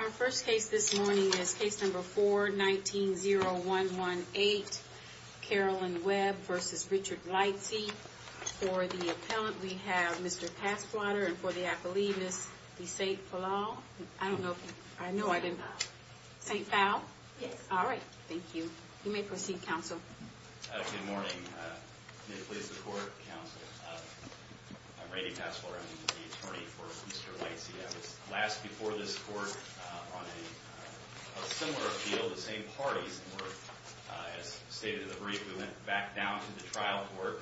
Our first case this morning is case number 4190118, Carolyn Webb v. Richard Lightsey. For the appellant, we have Mr. Passwater, and for the appellee, Ms. DeSainte-Fallon. I don't know if you... I know I didn't... DeSainte-Fallon. DeSainte-Fallon? Yes. All right. Thank you. You may proceed, counsel. Good morning. May it please the Court, counsel. I'm Randy Passwater. I'm the attorney for Mr. Lightsey. I was last before this Court on a similar appeal. The same parties were, as stated in the brief, we went back down to the trial court.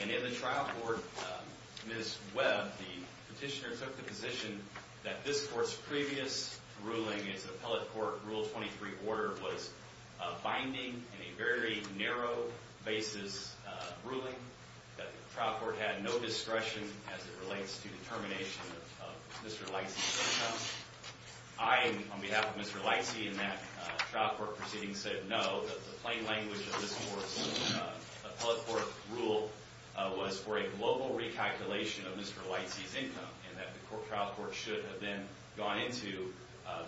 And in the trial court, Ms. Webb, the petitioner, took the position that this Court's previous ruling, its appellate court rule 23 order, was binding in a very narrow basis ruling. That the trial court had no discretion as it relates to determination of Mr. Lightsey's income. I, on behalf of Mr. Lightsey, in that trial court proceeding, said no. That the plain language of this Court's appellate court rule was for a global recalculation of Mr. Lightsey's income. And that the trial court should have then gone into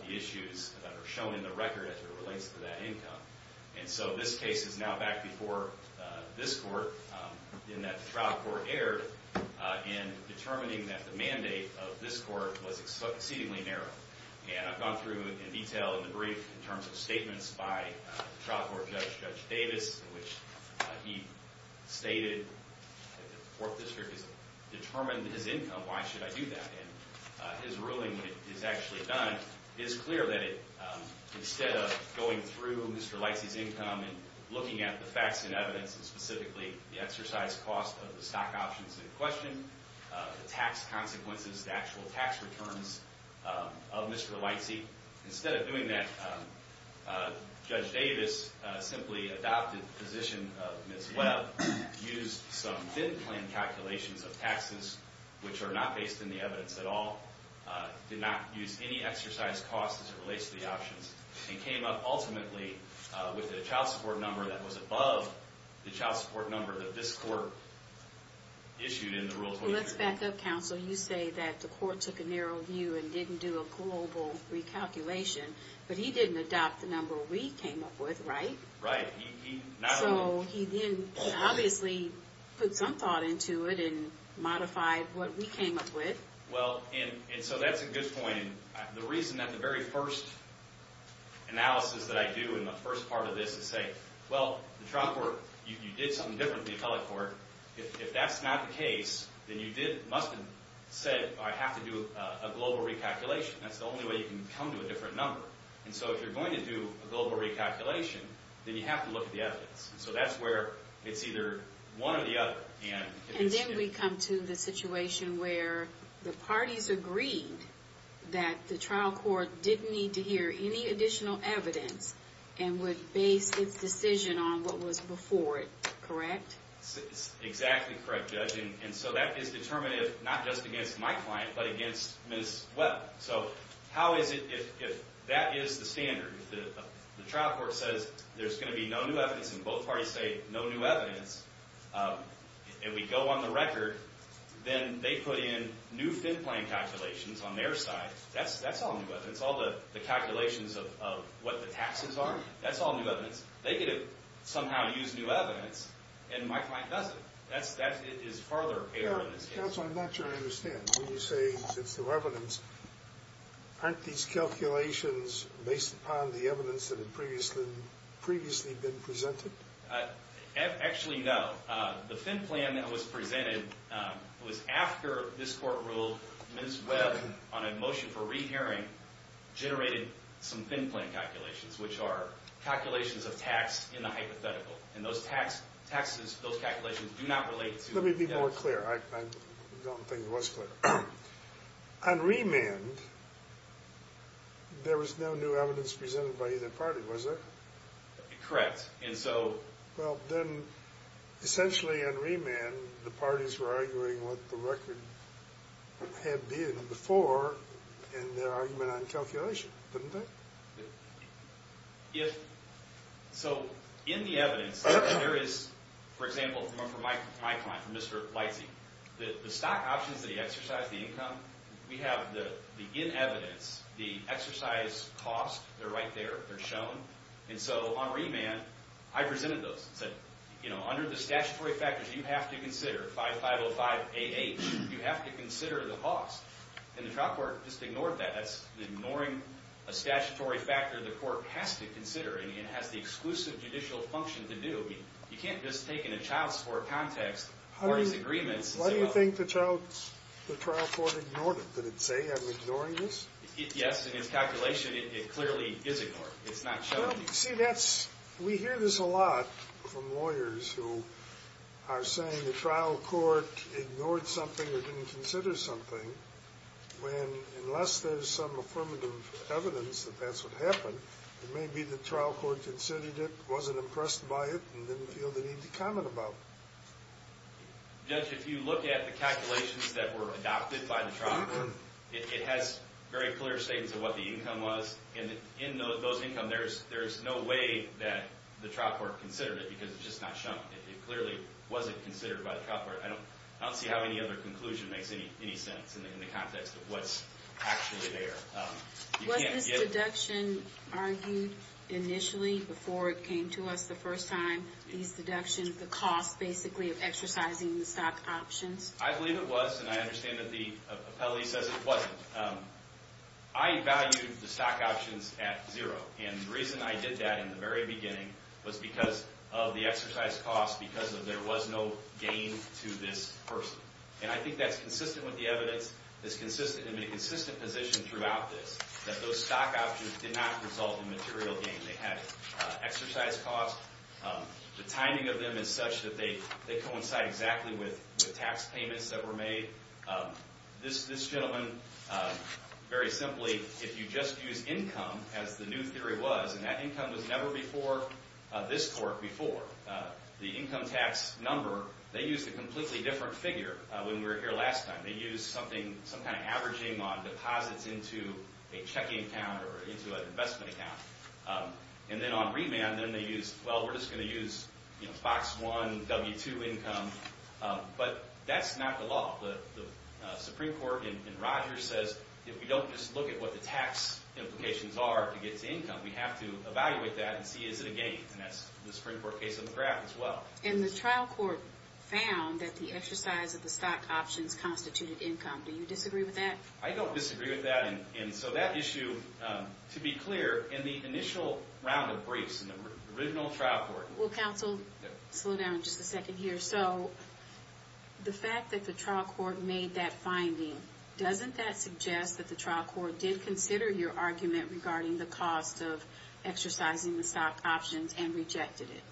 the issues that are shown in the record as it relates to that income. And so this case is now back before this Court in that the trial court erred in determining that the mandate of this Court was exceedingly narrow. And I've gone through in detail in the brief in terms of statements by the trial court judge, Judge Davis, in which he stated that the court district has determined his income. Why should I do that? And his ruling, when it is actually done, is clear that it, instead of going through Mr. Lightsey's income and looking at the facts and evidence, and specifically the exercise cost of the stock options in question, the tax consequences, the actual tax returns of Mr. Lightsey. Instead of doing that, Judge Davis simply adopted the position of Ms. Webb, used some thin-plan calculations of taxes, which are not based in the evidence at all, did not use any exercise costs as it relates to the options, and came up ultimately with a child support number that was above the child support number that this Court issued in the Rule 23. Let's back up, Counsel. You say that the Court took a narrow view and didn't do a global recalculation. But he didn't adopt the number we came up with, right? Right. So he obviously put some thought into it and modified what we came up with. Well, and so that's a good point. The reason that the very first analysis that I do in the first part of this is say, well, the trial court, you did something different than the appellate court. If that's not the case, then you must have said, I have to do a global recalculation. That's the only way you can come to a different number. And so if you're going to do a global recalculation, then you have to look at the evidence. So that's where it's either one or the other. And then we come to the situation where the parties agreed that the trial court didn't need to hear any additional evidence and would base its decision on what was before it, correct? Exactly correct, Judge. And so that is determinative not just against my client, but against Ms. Webb. So how is it if that is the standard? If the trial court says there's going to be no new evidence and both parties say no new evidence, and we go on the record, then they put in new fin plan calculations on their side. That's all new evidence. All the calculations of what the taxes are, that's all new evidence. They could have somehow used new evidence, and my client doesn't. That is further error in this case. Counsel, I'm not sure I understand. When you say it's new evidence, aren't these calculations based upon the evidence that had previously been presented? Actually, no. The fin plan that was presented was after this court ruled Ms. Webb, on a motion for rehearing, generated some fin plan calculations, which are calculations of tax in the hypothetical. And those taxes, those calculations, do not relate to the evidence. Let me be more clear. I don't think it was clear. On remand, there was no new evidence presented by either party, was there? Correct. Well, then essentially on remand, the parties were arguing what the record had been before, and their argument on calculation, didn't they? So in the evidence, there is, for example, from my client, Mr. Leitze, the stock options that he exercised, the income, we have in evidence the exercise cost. They're right there. They're shown. And so on remand, I presented those and said, you know, under the statutory factors you have to consider, 5505AH, you have to consider the cost. And the trial court just ignored that. That's ignoring a statutory factor the court has to consider, and it has the exclusive judicial function to do. You can't just take in a child support context parties' agreements. Why do you think the trial court ignored it? Did it say, I'm ignoring this? Yes, in its calculation, it clearly is ignored. It's not shown. See, we hear this a lot from lawyers who are saying the trial court ignored something or didn't consider something. Unless there's some affirmative evidence that that's what happened, it may be the trial court considered it, wasn't impressed by it, and didn't feel the need to comment about it. Judge, if you look at the calculations that were adopted by the trial court, it has very clear statements of what the income was, and in those income there's no way that the trial court considered it because it's just not shown. It clearly wasn't considered by the trial court. I don't see how any other conclusion makes any sense in the context of what's actually there. Was this deduction argued initially before it came to us the first time, these deductions, the cost basically of exercising the stock options? I believe it was, and I understand that the appellee says it wasn't. I valued the stock options at zero, and the reason I did that in the very beginning was because of the exercise cost, because there was no gain to this person. And I think that's consistent with the evidence, that's consistent in the consistent position throughout this, that those stock options did not result in material gain. They had exercise cost. The timing of them is such that they coincide exactly with tax payments that were made. This gentleman, very simply, if you just use income as the new theory was, and that income was never before this court before, the income tax number, they used a completely different figure when we were here last time. They used some kind of averaging on deposits into a checking account or into an investment account. And then on remand, then they used, well, we're just going to use box one, W-2 income. But that's not the law. The Supreme Court in Rogers says if we don't just look at what the tax implications are to get to income, we have to evaluate that and see is it a gain. And that's the Supreme Court case on the graph as well. And the trial court found that the exercise of the stock options constituted income. Do you disagree with that? I don't disagree with that. And so that issue, to be clear, in the initial round of briefs in the original trial court. Well, counsel, slow down just a second here. So the fact that the trial court made that finding, doesn't that suggest that the trial court did consider your argument regarding the cost of exercising the stock options and rejected it?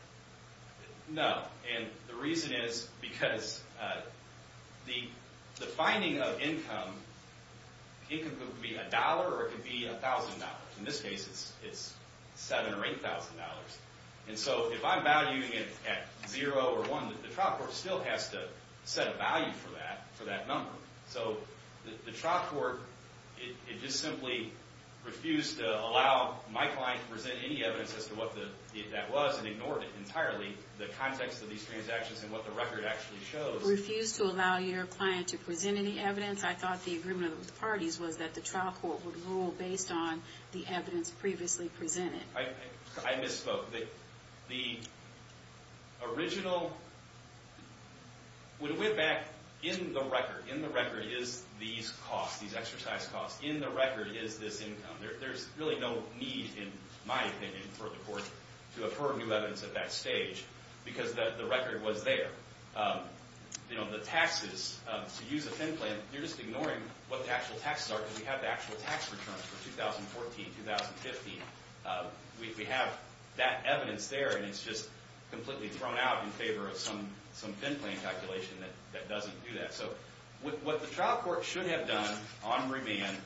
No. And the reason is because the finding of income, income could be $1 or it could be $1,000. In this case, it's $7,000 or $8,000. And so if I'm valuing it at zero or one, the trial court still has to set a value for that number. So the trial court, it just simply refused to allow my client to present any evidence as to what that was and ignored it entirely, the context of these transactions and what the record actually shows. Refused to allow your client to present any evidence? I thought the agreement of the parties was that the trial court would rule based on the evidence previously presented. I misspoke. The original, when we went back, in the record is these costs, these exercise costs. In the record is this income. There's really no need, in my opinion, for the court to infer new evidence at that stage because the record was there. The taxes, to use a thin plan, you're just ignoring what the actual taxes are because we have the actual tax returns for 2014, 2015. We have that evidence there and it's just completely thrown out in favor of some thin plan calculation that doesn't do that. So what the trial court should have done on remand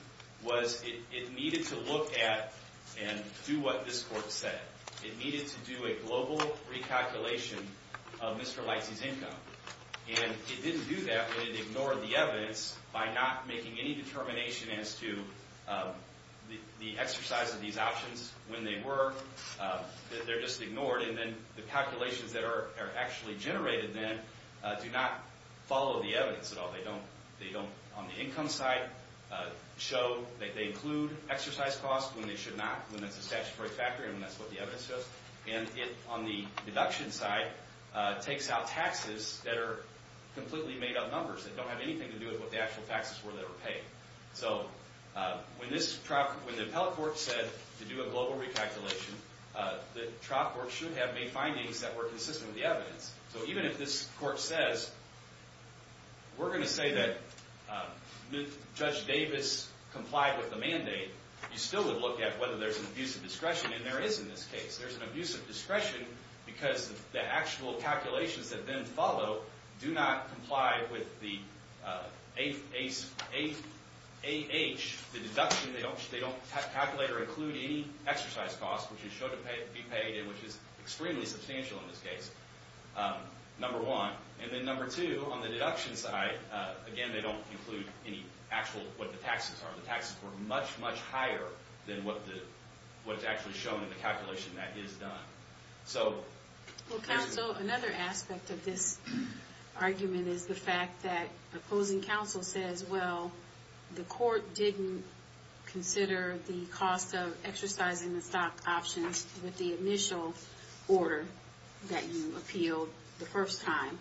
was it needed to look at and do what this court said. It needed to do a global recalculation of Mr. Lightsey's income. And it didn't do that, but it ignored the evidence by not making any determination as to the exercise of these options when they were. They're just ignored, and then the calculations that are actually generated then do not follow the evidence at all. They don't, on the income side, show that they include exercise costs when they should not, when it's a statutory factor and that's what the evidence says. And it, on the deduction side, takes out taxes that are completely made up numbers. They don't have anything to do with what the actual taxes were that were paid. So when the appellate court said to do a global recalculation, the trial court should have made findings that were consistent with the evidence. So even if this court says, we're going to say that Judge Davis complied with the mandate, you still would look at whether there's an abuse of discretion, and there is in this case. There's an abuse of discretion because the actual calculations that then follow do not comply with the AH, the deduction. They don't calculate or include any exercise costs which is shown to be paid, which is extremely substantial in this case, number one. And then number two, on the deduction side, again, they don't include any actual, what the taxes are. The taxes were much, much higher than what's actually shown in the calculation that is done. Well, counsel, another aspect of this argument is the fact that opposing counsel says, well, the court didn't consider the cost of exercising the stock options with the initial order that you appealed the first time.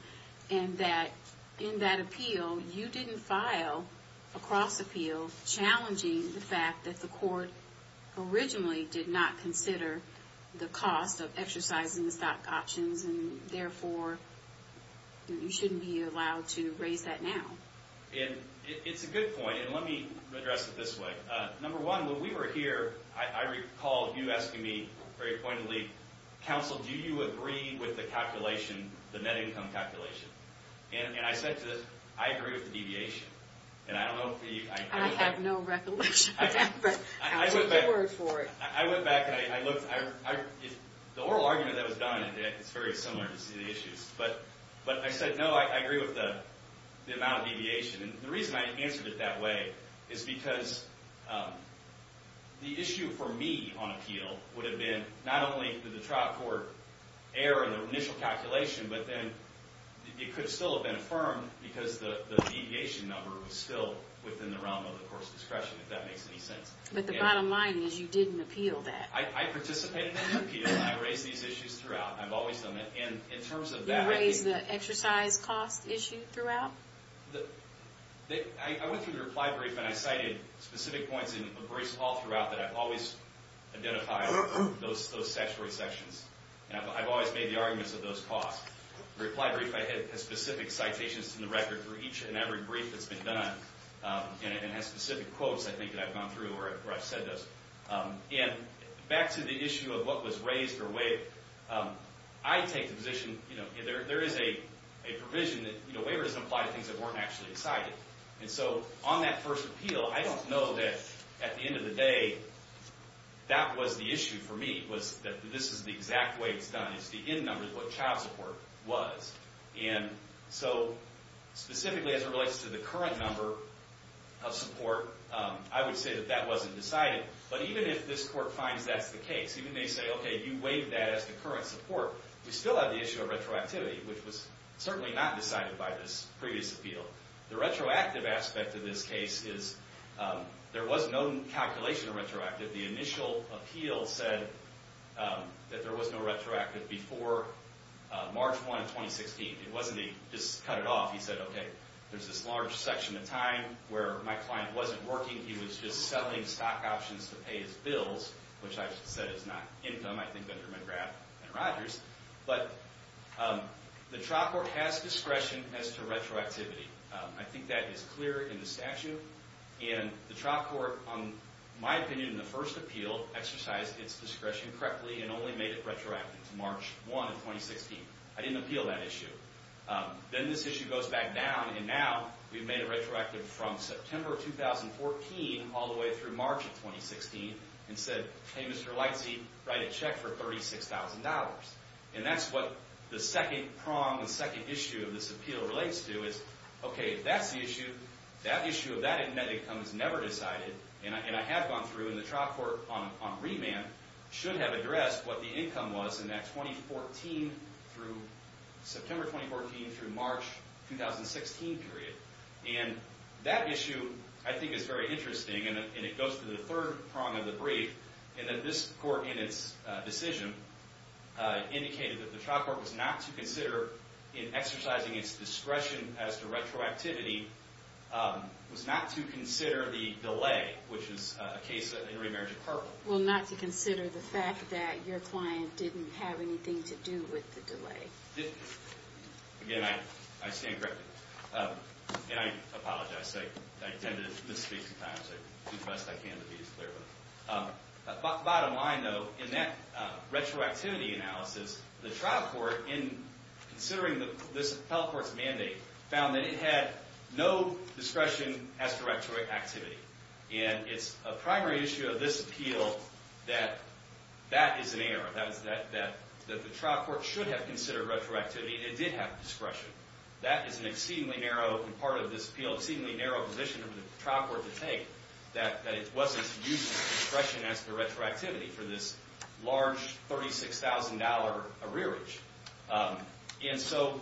And that in that appeal, you didn't file a cross appeal challenging the fact that the court originally did not consider the cost of exercising the stock options, and therefore, you shouldn't be allowed to raise that now. And it's a good point, and let me address it this way. Number one, when we were here, I recall you asking me very pointedly, counsel, do you agree with the calculation, the net income calculation? And I said to this, I agree with the deviation. I have no recollection of that, but I'll take your word for it. I went back and I looked. The oral argument that was done, it's very similar to see the issues. But I said, no, I agree with the amount of deviation. And the reason I answered it that way is because the issue for me on appeal would have been not only did the trial court err in the initial calculation, but then it could still have been affirmed because the deviation number was still within the realm of the court's discretion, if that makes any sense. But the bottom line is you didn't appeal that. I participated in the appeal, and I raised these issues throughout. I've always done that. And in terms of that, I think... You raised the exercise cost issue throughout? I went through the reply brief, and I cited specific points in a brief call throughout that I've always identified those statutory sections. And I've always made the arguments of those costs. The reply brief has specific citations in the record for each and every brief that's been done and has specific quotes, I think, that I've gone through where I've said those. And back to the issue of what was raised or waived. I take the position, you know, there is a provision that, you know, waiver doesn't apply to things that weren't actually decided. And so on that first appeal, I don't know that at the end of the day that was the issue for me, was that this is the exact way it's done. It's the end number of what child support was. And so specifically as it relates to the current number of support, I would say that that wasn't decided. But even if this court finds that's the case, even if they say, okay, you waived that as the current support, we still have the issue of retroactivity, which was certainly not decided by this previous appeal. The retroactive aspect of this case is there was no calculation of retroactive. The initial appeal said that there was no retroactive before March 1, 2016. It wasn't that he just cut it off. He said, okay, there's this large section of time where my client wasn't working. He was just selling stock options to pay his bills, which I said is not income, I think, under McGrath and Rogers. But the trial court has discretion as to retroactivity. I think that is clear in the statute. And the trial court, in my opinion, in the first appeal, exercised its discretion correctly and only made it retroactive to March 1, 2016. I didn't appeal that issue. Then this issue goes back down, and now we've made it retroactive from September 2014 all the way through March of 2016 and said, hey, Mr. Lightsey, write a check for $36,000. And that's what the second prong, the second issue of this appeal relates to is, okay, that's the issue. That issue of that net income is never decided, and I have gone through, and the trial court on remand should have addressed what the income was in that September 2014 through March 2016 period. And that issue, I think, is very interesting, and it goes to the third prong of the brief, in that this court in its decision indicated that the trial court was not to consider in exercising its discretion as to retroactivity, was not to consider the delay, which is a case in remarriage of purple. Well, not to consider the fact that your client didn't have anything to do with the delay. Again, I stand corrected. And I apologize. I tend to misspeak sometimes. I do the best I can to be as clear. Bottom line, though, in that retroactivity analysis, the trial court in considering this health court's mandate found that it had no discretion as to retroactivity. And it's a primary issue of this appeal that that is an error, that the trial court should have considered retroactivity, and it did have discretion. That is an exceedingly narrow, and part of this appeal, exceedingly narrow position for the trial court to take, that it wasn't to use discretion as to retroactivity for this large $36,000 arrearage. And so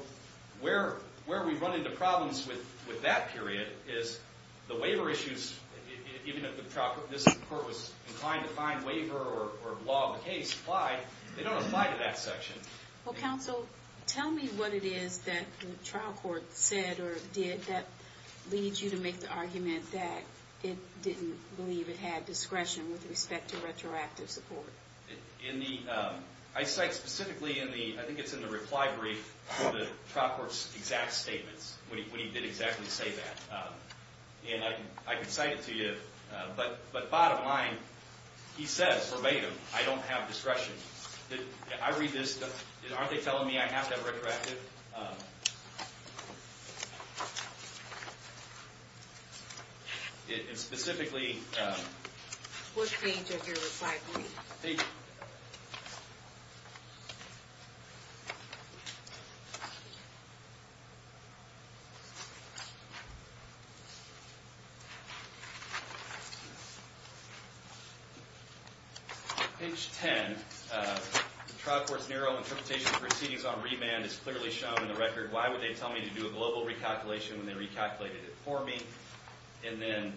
where we run into problems with that period is the waiver issues, even if the trial court was inclined to find waiver or log the case, they don't apply to that section. Well, counsel, tell me what it is that the trial court said or did that leads you to make the argument that it didn't believe it had discretion with respect to retroactive support? I cite specifically in the reply brief for the trial court's exact statements when he did exactly say that. And I can cite it to you, but bottom line, he says verbatim, I don't have discretion. I read this, aren't they telling me I have to have retroactive? It is specifically... What page of your reply brief? Page... Page 10, the trial court's narrow interpretation of proceedings on remand is clearly shown in the record. Why would they tell me to do a global recalculation when they recalculated it for me? And then...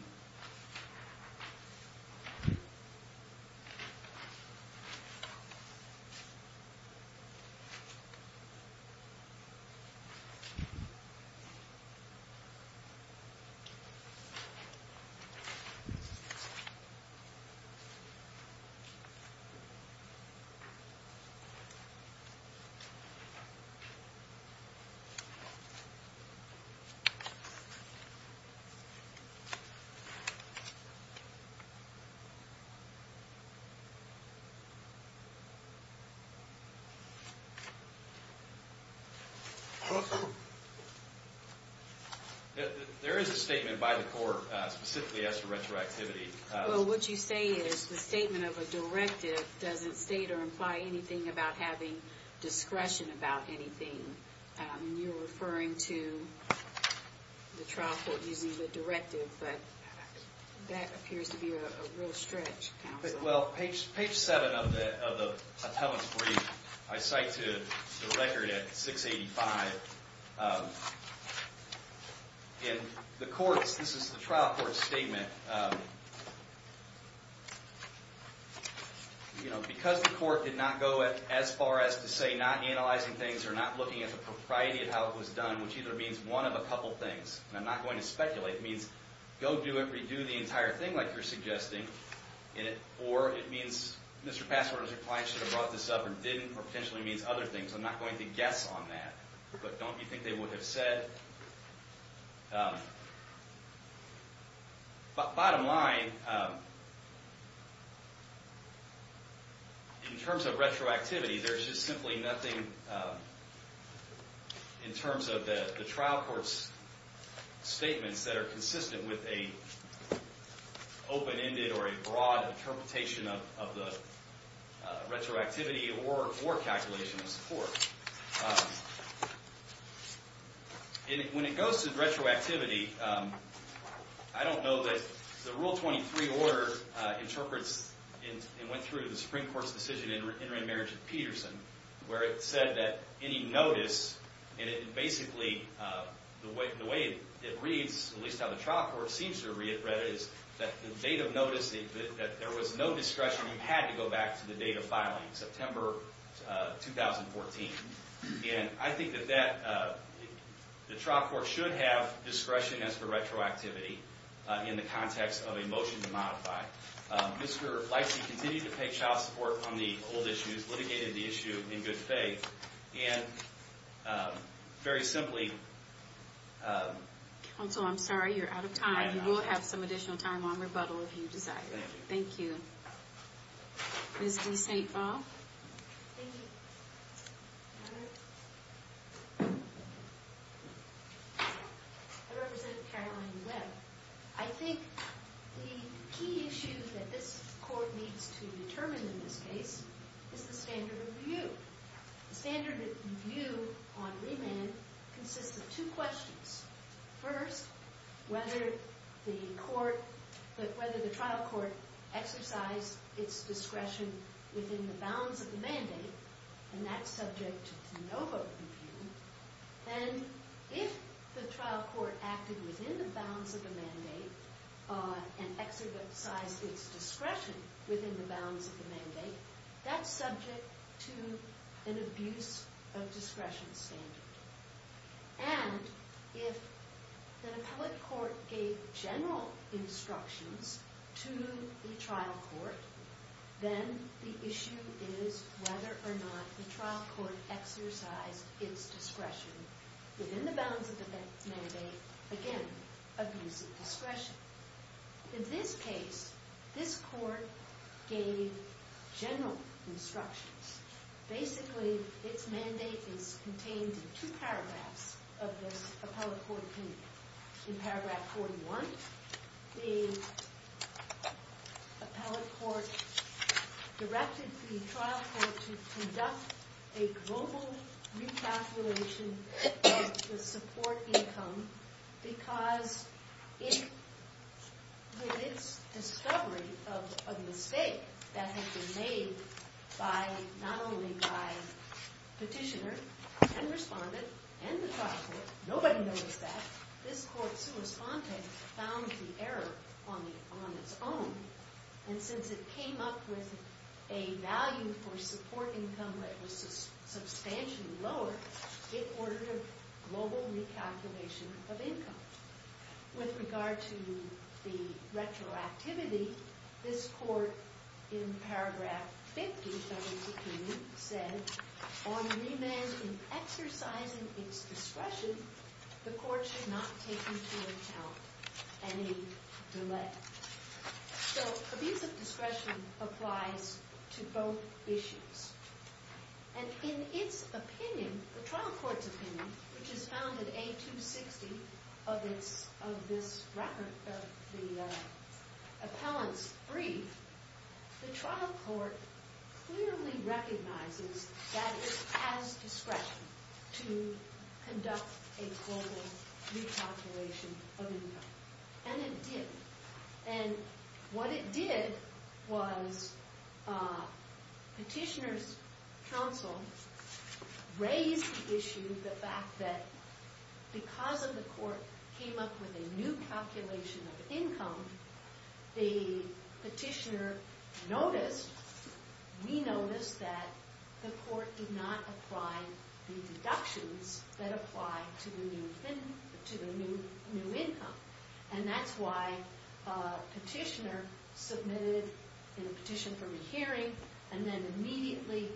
Okay. There is a statement by the court specifically as to retroactivity. Well, what you say is the statement of a directive doesn't state or imply anything about having discretion about anything. You're referring to the trial court using the directive, but that appears to be a real stretch, counsel. Well, page 7 of the appellant's brief, I cite to the record at 685. In the courts, this is the trial court's statement. Because the court did not go as far as to say not analyzing things or not looking at the propriety of how it was done, which either means one of a couple things, and I'm not going to speculate, it means go do it, redo the entire thing like you're suggesting, or it means Mr. Passwater's reply should have brought this up or didn't or potentially means other things. I'm not going to guess on that. But don't you think they would have said... Bottom line, in terms of retroactivity, there's just simply nothing in terms of the trial court's statements that are consistent with an open-ended or a broad interpretation of the retroactivity or calculation of support. And when it goes to retroactivity, I don't know that the Rule 23 order interprets and went through the Supreme Court's decision in remarriage of Peterson where it said that any notice, and basically the way it reads, at least how the trial court seems to read it, is that the date of notice that there was no discretion, had to go back to the date of filing, September 2014. And I think that the trial court should have discretion as for retroactivity in the context of a motion to modify. Mr. Fleisig continued to pay child support on the old issues, litigated the issue in good faith, and very simply... Counsel, I'm sorry, you're out of time. You will have some additional time on rebuttal if you desire. Thank you. Ms. De St. Bob? Thank you, Your Honor. I represent Caroline Webb. I think the key issue that this court needs to determine in this case is the standard of view. The standard of view on remand consists of two questions. First, whether the trial court exercised its discretion within the bounds of the mandate, and that's subject to no vote review. Then, if the trial court acted within the bounds of the mandate and exercised its discretion within the bounds of the mandate, that's subject to an abuse of discretion standard. And if the public court gave general instructions to the trial court, then the issue is whether or not the trial court exercised its discretion within the bounds of the mandate, again, abuse of discretion. In this case, this court gave general instructions. Basically, its mandate is contained in two paragraphs of this appellate court opinion. In paragraph 41, the appellate court directed the trial court to conduct a global recalculation of the support income because with its discovery of a mistake that had been made not only by petitioner and respondent and the trial court, nobody noticed that, this court's correspondent found the error on its own. And since it came up with a value for support income that was substantially lower, it ordered a global recalculation of income. With regard to the retroactivity, this court, in paragraph 50 of its opinion, said, on remand in exercising its discretion, the court should not take into account any delay. So abuse of discretion applies to both issues. And in its opinion, the trial court's opinion, which is found in A260 of the appellant's brief, the trial court clearly recognizes that it has discretion to conduct a global recalculation of income. And it did. And what it did was petitioner's counsel raised the issue, the fact that because of the court came up with a new calculation of income, the petitioner noticed, we noticed, that the court did not apply the deductions that apply to the new income. And that's why petitioner submitted in a petition for rehearing and then immediately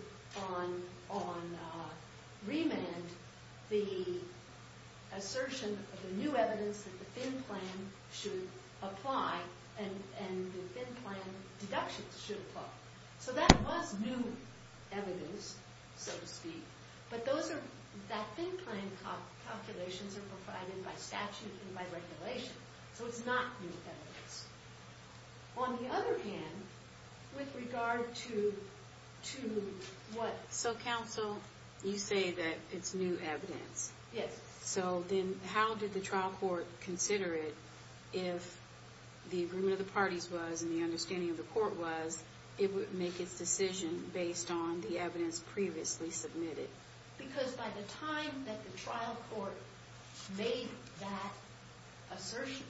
on remand the assertion of the new evidence that the FIN plan should apply and the FIN plan deductions should apply. So that was new evidence, so to speak. But that FIN plan calculations are provided by statute and by regulation, so it's not new evidence. On the other hand, with regard to what... So, counsel, you say that it's new evidence. Yes. So then how did the trial court consider it if the agreement of the parties was and the understanding of the court was it would make its decision based on the evidence previously submitted? Because by the time that the trial court made that assertion,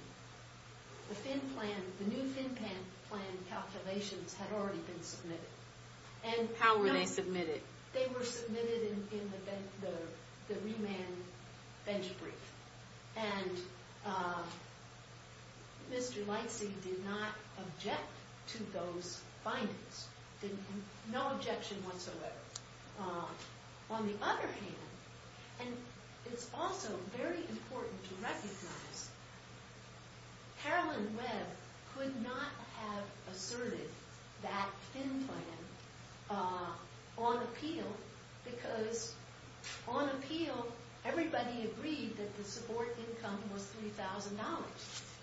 the new FIN plan calculations had already been submitted. How were they submitted? They were submitted in the remand bench brief. And Mr. Lightsey did not object to those findings. No objection whatsoever. On the other hand, and it's also very important to recognize, Carolyn Webb could not have asserted that FIN plan on appeal because on appeal, everybody agreed that the support income was $3,000.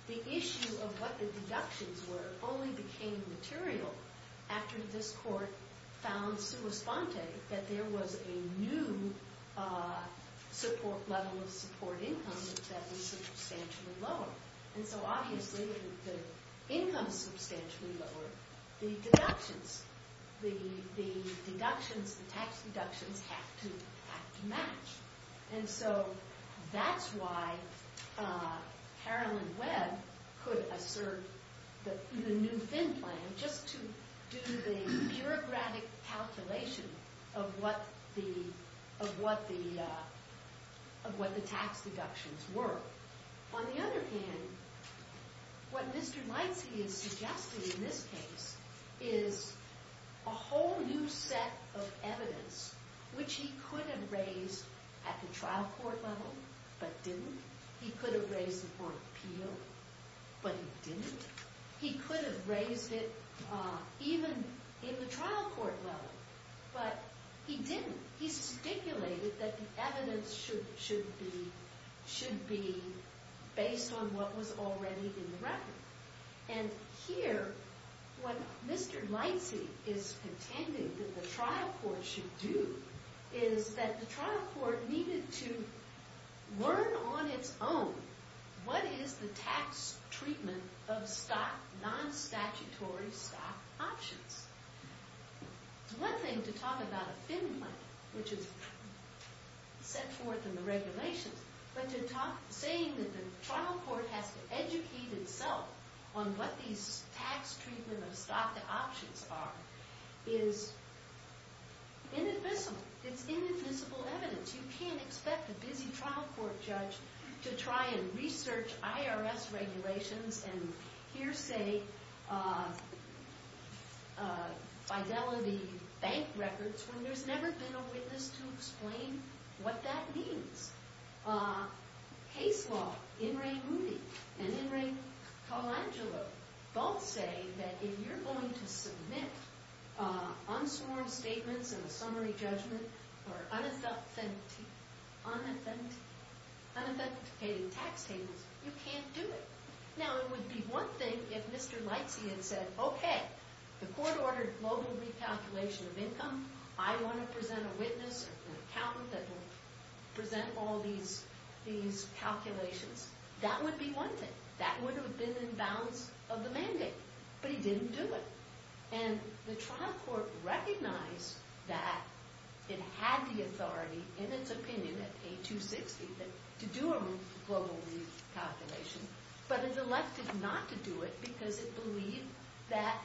The issue of what the deductions were only became material after this court found sui sponte, that there was a new level of support income that was substantially lower. And so obviously, if the income is substantially lower, the deductions, the deductions, the tax deductions have to match. And so that's why Carolyn Webb could assert the new FIN plan just to do the bureaucratic calculation of what the tax deductions were. On the other hand, what Mr. Lightsey is suggesting in this case is a whole new set of evidence, which he could have raised at the trial court level, but didn't. He could have raised it on appeal, but he didn't. He could have raised it even in the trial court level, but he didn't. He stipulated that the evidence should be based on what was already in the record. And here, what Mr. Lightsey is contending that the trial court should do is that the trial court needed to learn on its own what is the tax treatment of non-statutory stock options. It's one thing to talk about a FIN plan, which is set forth in the regulations, but saying that the trial court has to educate itself on what these tax treatment of stock options are is inadmissible. It's inadmissible evidence. You can't expect a busy trial court judge to try and research IRS regulations and hearsay fidelity bank records when there's never been a witness to explain what that means. Case law, In re Rudi and In re Colangelo both say that if you're going to submit unsworn statements in a summary judgment or unauthenticating tax statements, you can't do it. Now, it would be one thing if Mr. Lightsey had said, okay, the court ordered global recalculation of income. I want to present a witness, an accountant that will present all these calculations. That would be one thing. That would have been in balance of the mandate, but he didn't do it. And the trial court recognized that it had the authority, in its opinion, to do a global recalculation, but it elected not to do it because it believed that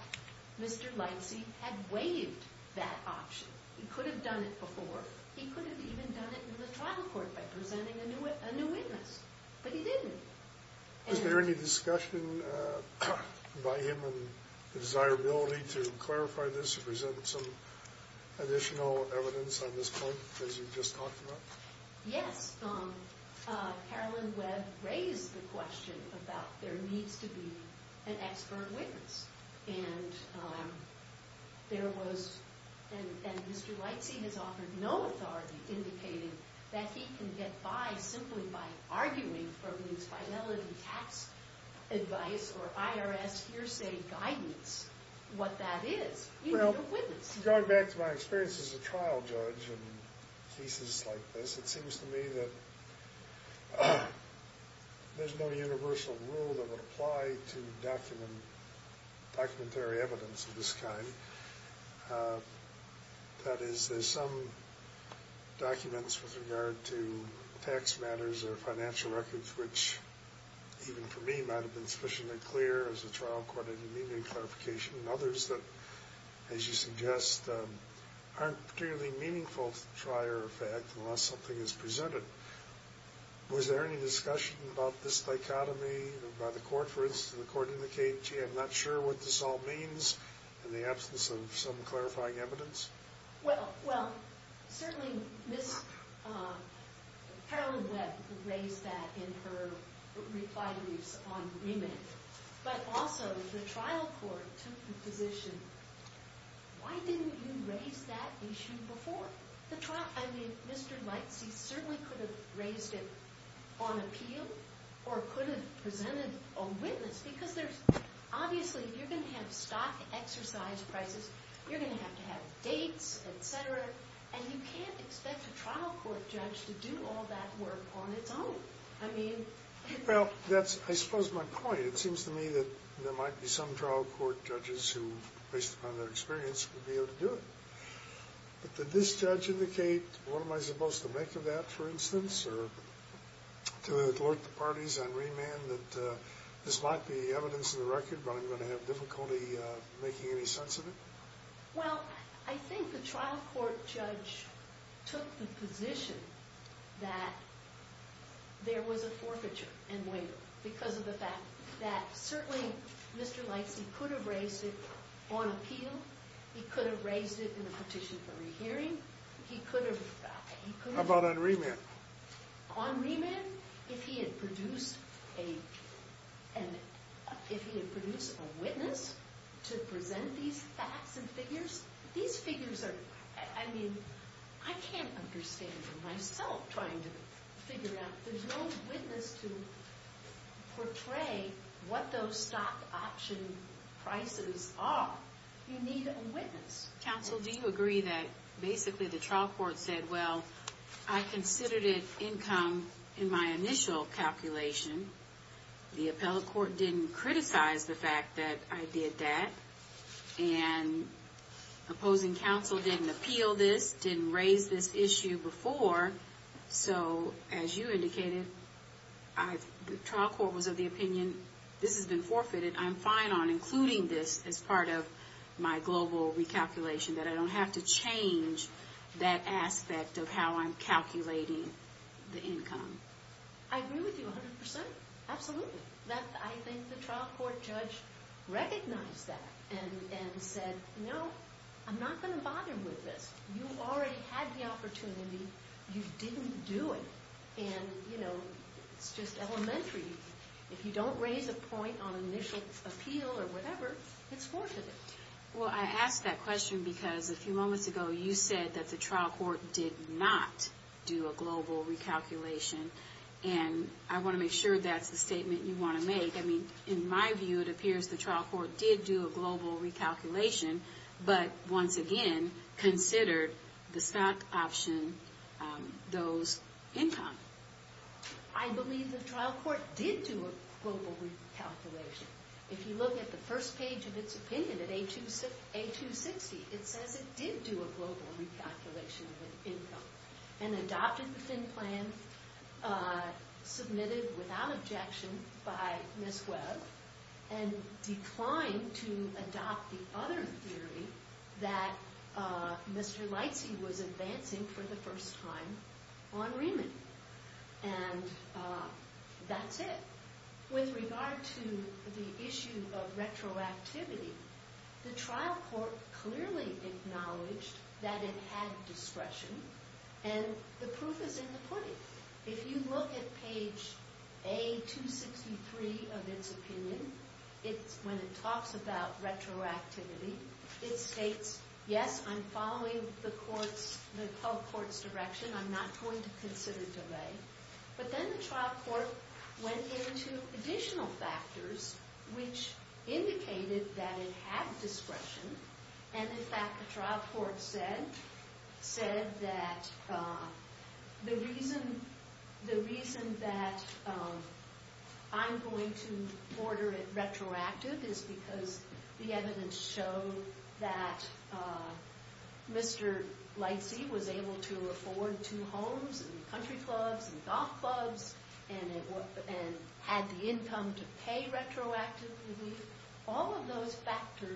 Mr. Lightsey had waived that option. He could have done it before. He could have even done it in the trial court by presenting a new witness, but he didn't. Is there any discussion by him and the desirability to clarify this to present some additional evidence on this point, as you just talked about? Yes. Carolyn Webb raised the question about there needs to be an expert witness, and there was, and Mr. Lightsey has offered no authority indicating that he can get by simply by arguing from his finality tax advice or IRS hearsay guidance what that is. You need a witness. Well, going back to my experience as a trial judge in cases like this, it seems to me that there's no universal rule that would apply to documentary evidence of this kind. That is, there's some documents with regard to tax matters or financial records which even for me might have been sufficiently clear as a trial court in the immediate clarification, and others that, as you suggest, aren't particularly meaningful to the trier of fact unless something is presented. Was there any discussion about this dichotomy by the court? For instance, did the court indicate, gee, I'm not sure what this all means in the absence of some clarifying evidence? Well, certainly Ms. Carolyn Webb raised that in her reply briefs on remit, but also the trial court took the position, why didn't you raise that issue before? I mean, Mr. Lightsey certainly could have raised it on appeal or could have presented a witness because obviously you're going to have stock exercise prices. You're going to have to have dates, et cetera, and you can't expect a trial court judge to do all that work on its own. Well, that's, I suppose, my point. It seems to me that there might be some trial court judges who, based upon their experience, would be able to do it. But did this judge indicate, what am I supposed to make of that, for instance, or to alert the parties on remand that this might be evidence in the record but I'm going to have difficulty making any sense of it? Well, I think the trial court judge took the position that there was a forfeiture and waiver because of the fact that certainly Mr. Lightsey could have raised it on appeal. He could have raised it in a petition for a hearing. He could have... How about on remand? On remand, if he had produced a witness to present these facts and figures, these figures are... I mean, I can't understand myself trying to figure it out. There's no witness to portray what those stock option prices are. You need a witness. Counsel, do you agree that basically the trial court said, well, I considered it income in my initial calculation. The appellate court didn't criticize the fact that I did that. And opposing counsel didn't appeal this, didn't raise this issue before. So, as you indicated, the trial court was of the opinion, this has been forfeited, I'm fine on including this as part of my global recalculation, that I don't have to change that aspect of how I'm calculating the income. I agree with you 100%. Absolutely. I think the trial court judge recognized that and said, no, I'm not going to bother with this. You already had the opportunity. You didn't do it. And, you know, it's just elementary. If you don't raise a point on initial appeal or whatever, it's forfeited. Well, I ask that question because a few moments ago, you said that the trial court did not do a global recalculation. And I want to make sure that's the statement you want to make. I mean, in my view, it appears the trial court did do a global recalculation, but, once again, considered the stock option those income. I believe the trial court did do a global recalculation. If you look at the first page of its opinion at A260, it says it did do a global recalculation of income and adopted the thin plan submitted without objection by Ms. Webb and declined to adopt the other theory that Mr. Leitze was advancing for the first time on Riemann. And that's it. With regard to the issue of retroactivity, the trial court clearly acknowledged that it had discretion, and the proof is in the pudding. If you look at page A263 of its opinion, when it talks about retroactivity, it states, yes, I'm following the public court's direction. I'm not going to consider delay. But then the trial court went into additional factors, which indicated that it had discretion. And, in fact, the trial court said that the reason that I'm going to order it retroactive is because the evidence showed that Mr. Leitze was able to afford two homes and country clubs and golf clubs and had the income to pay retroactively. All of those factors...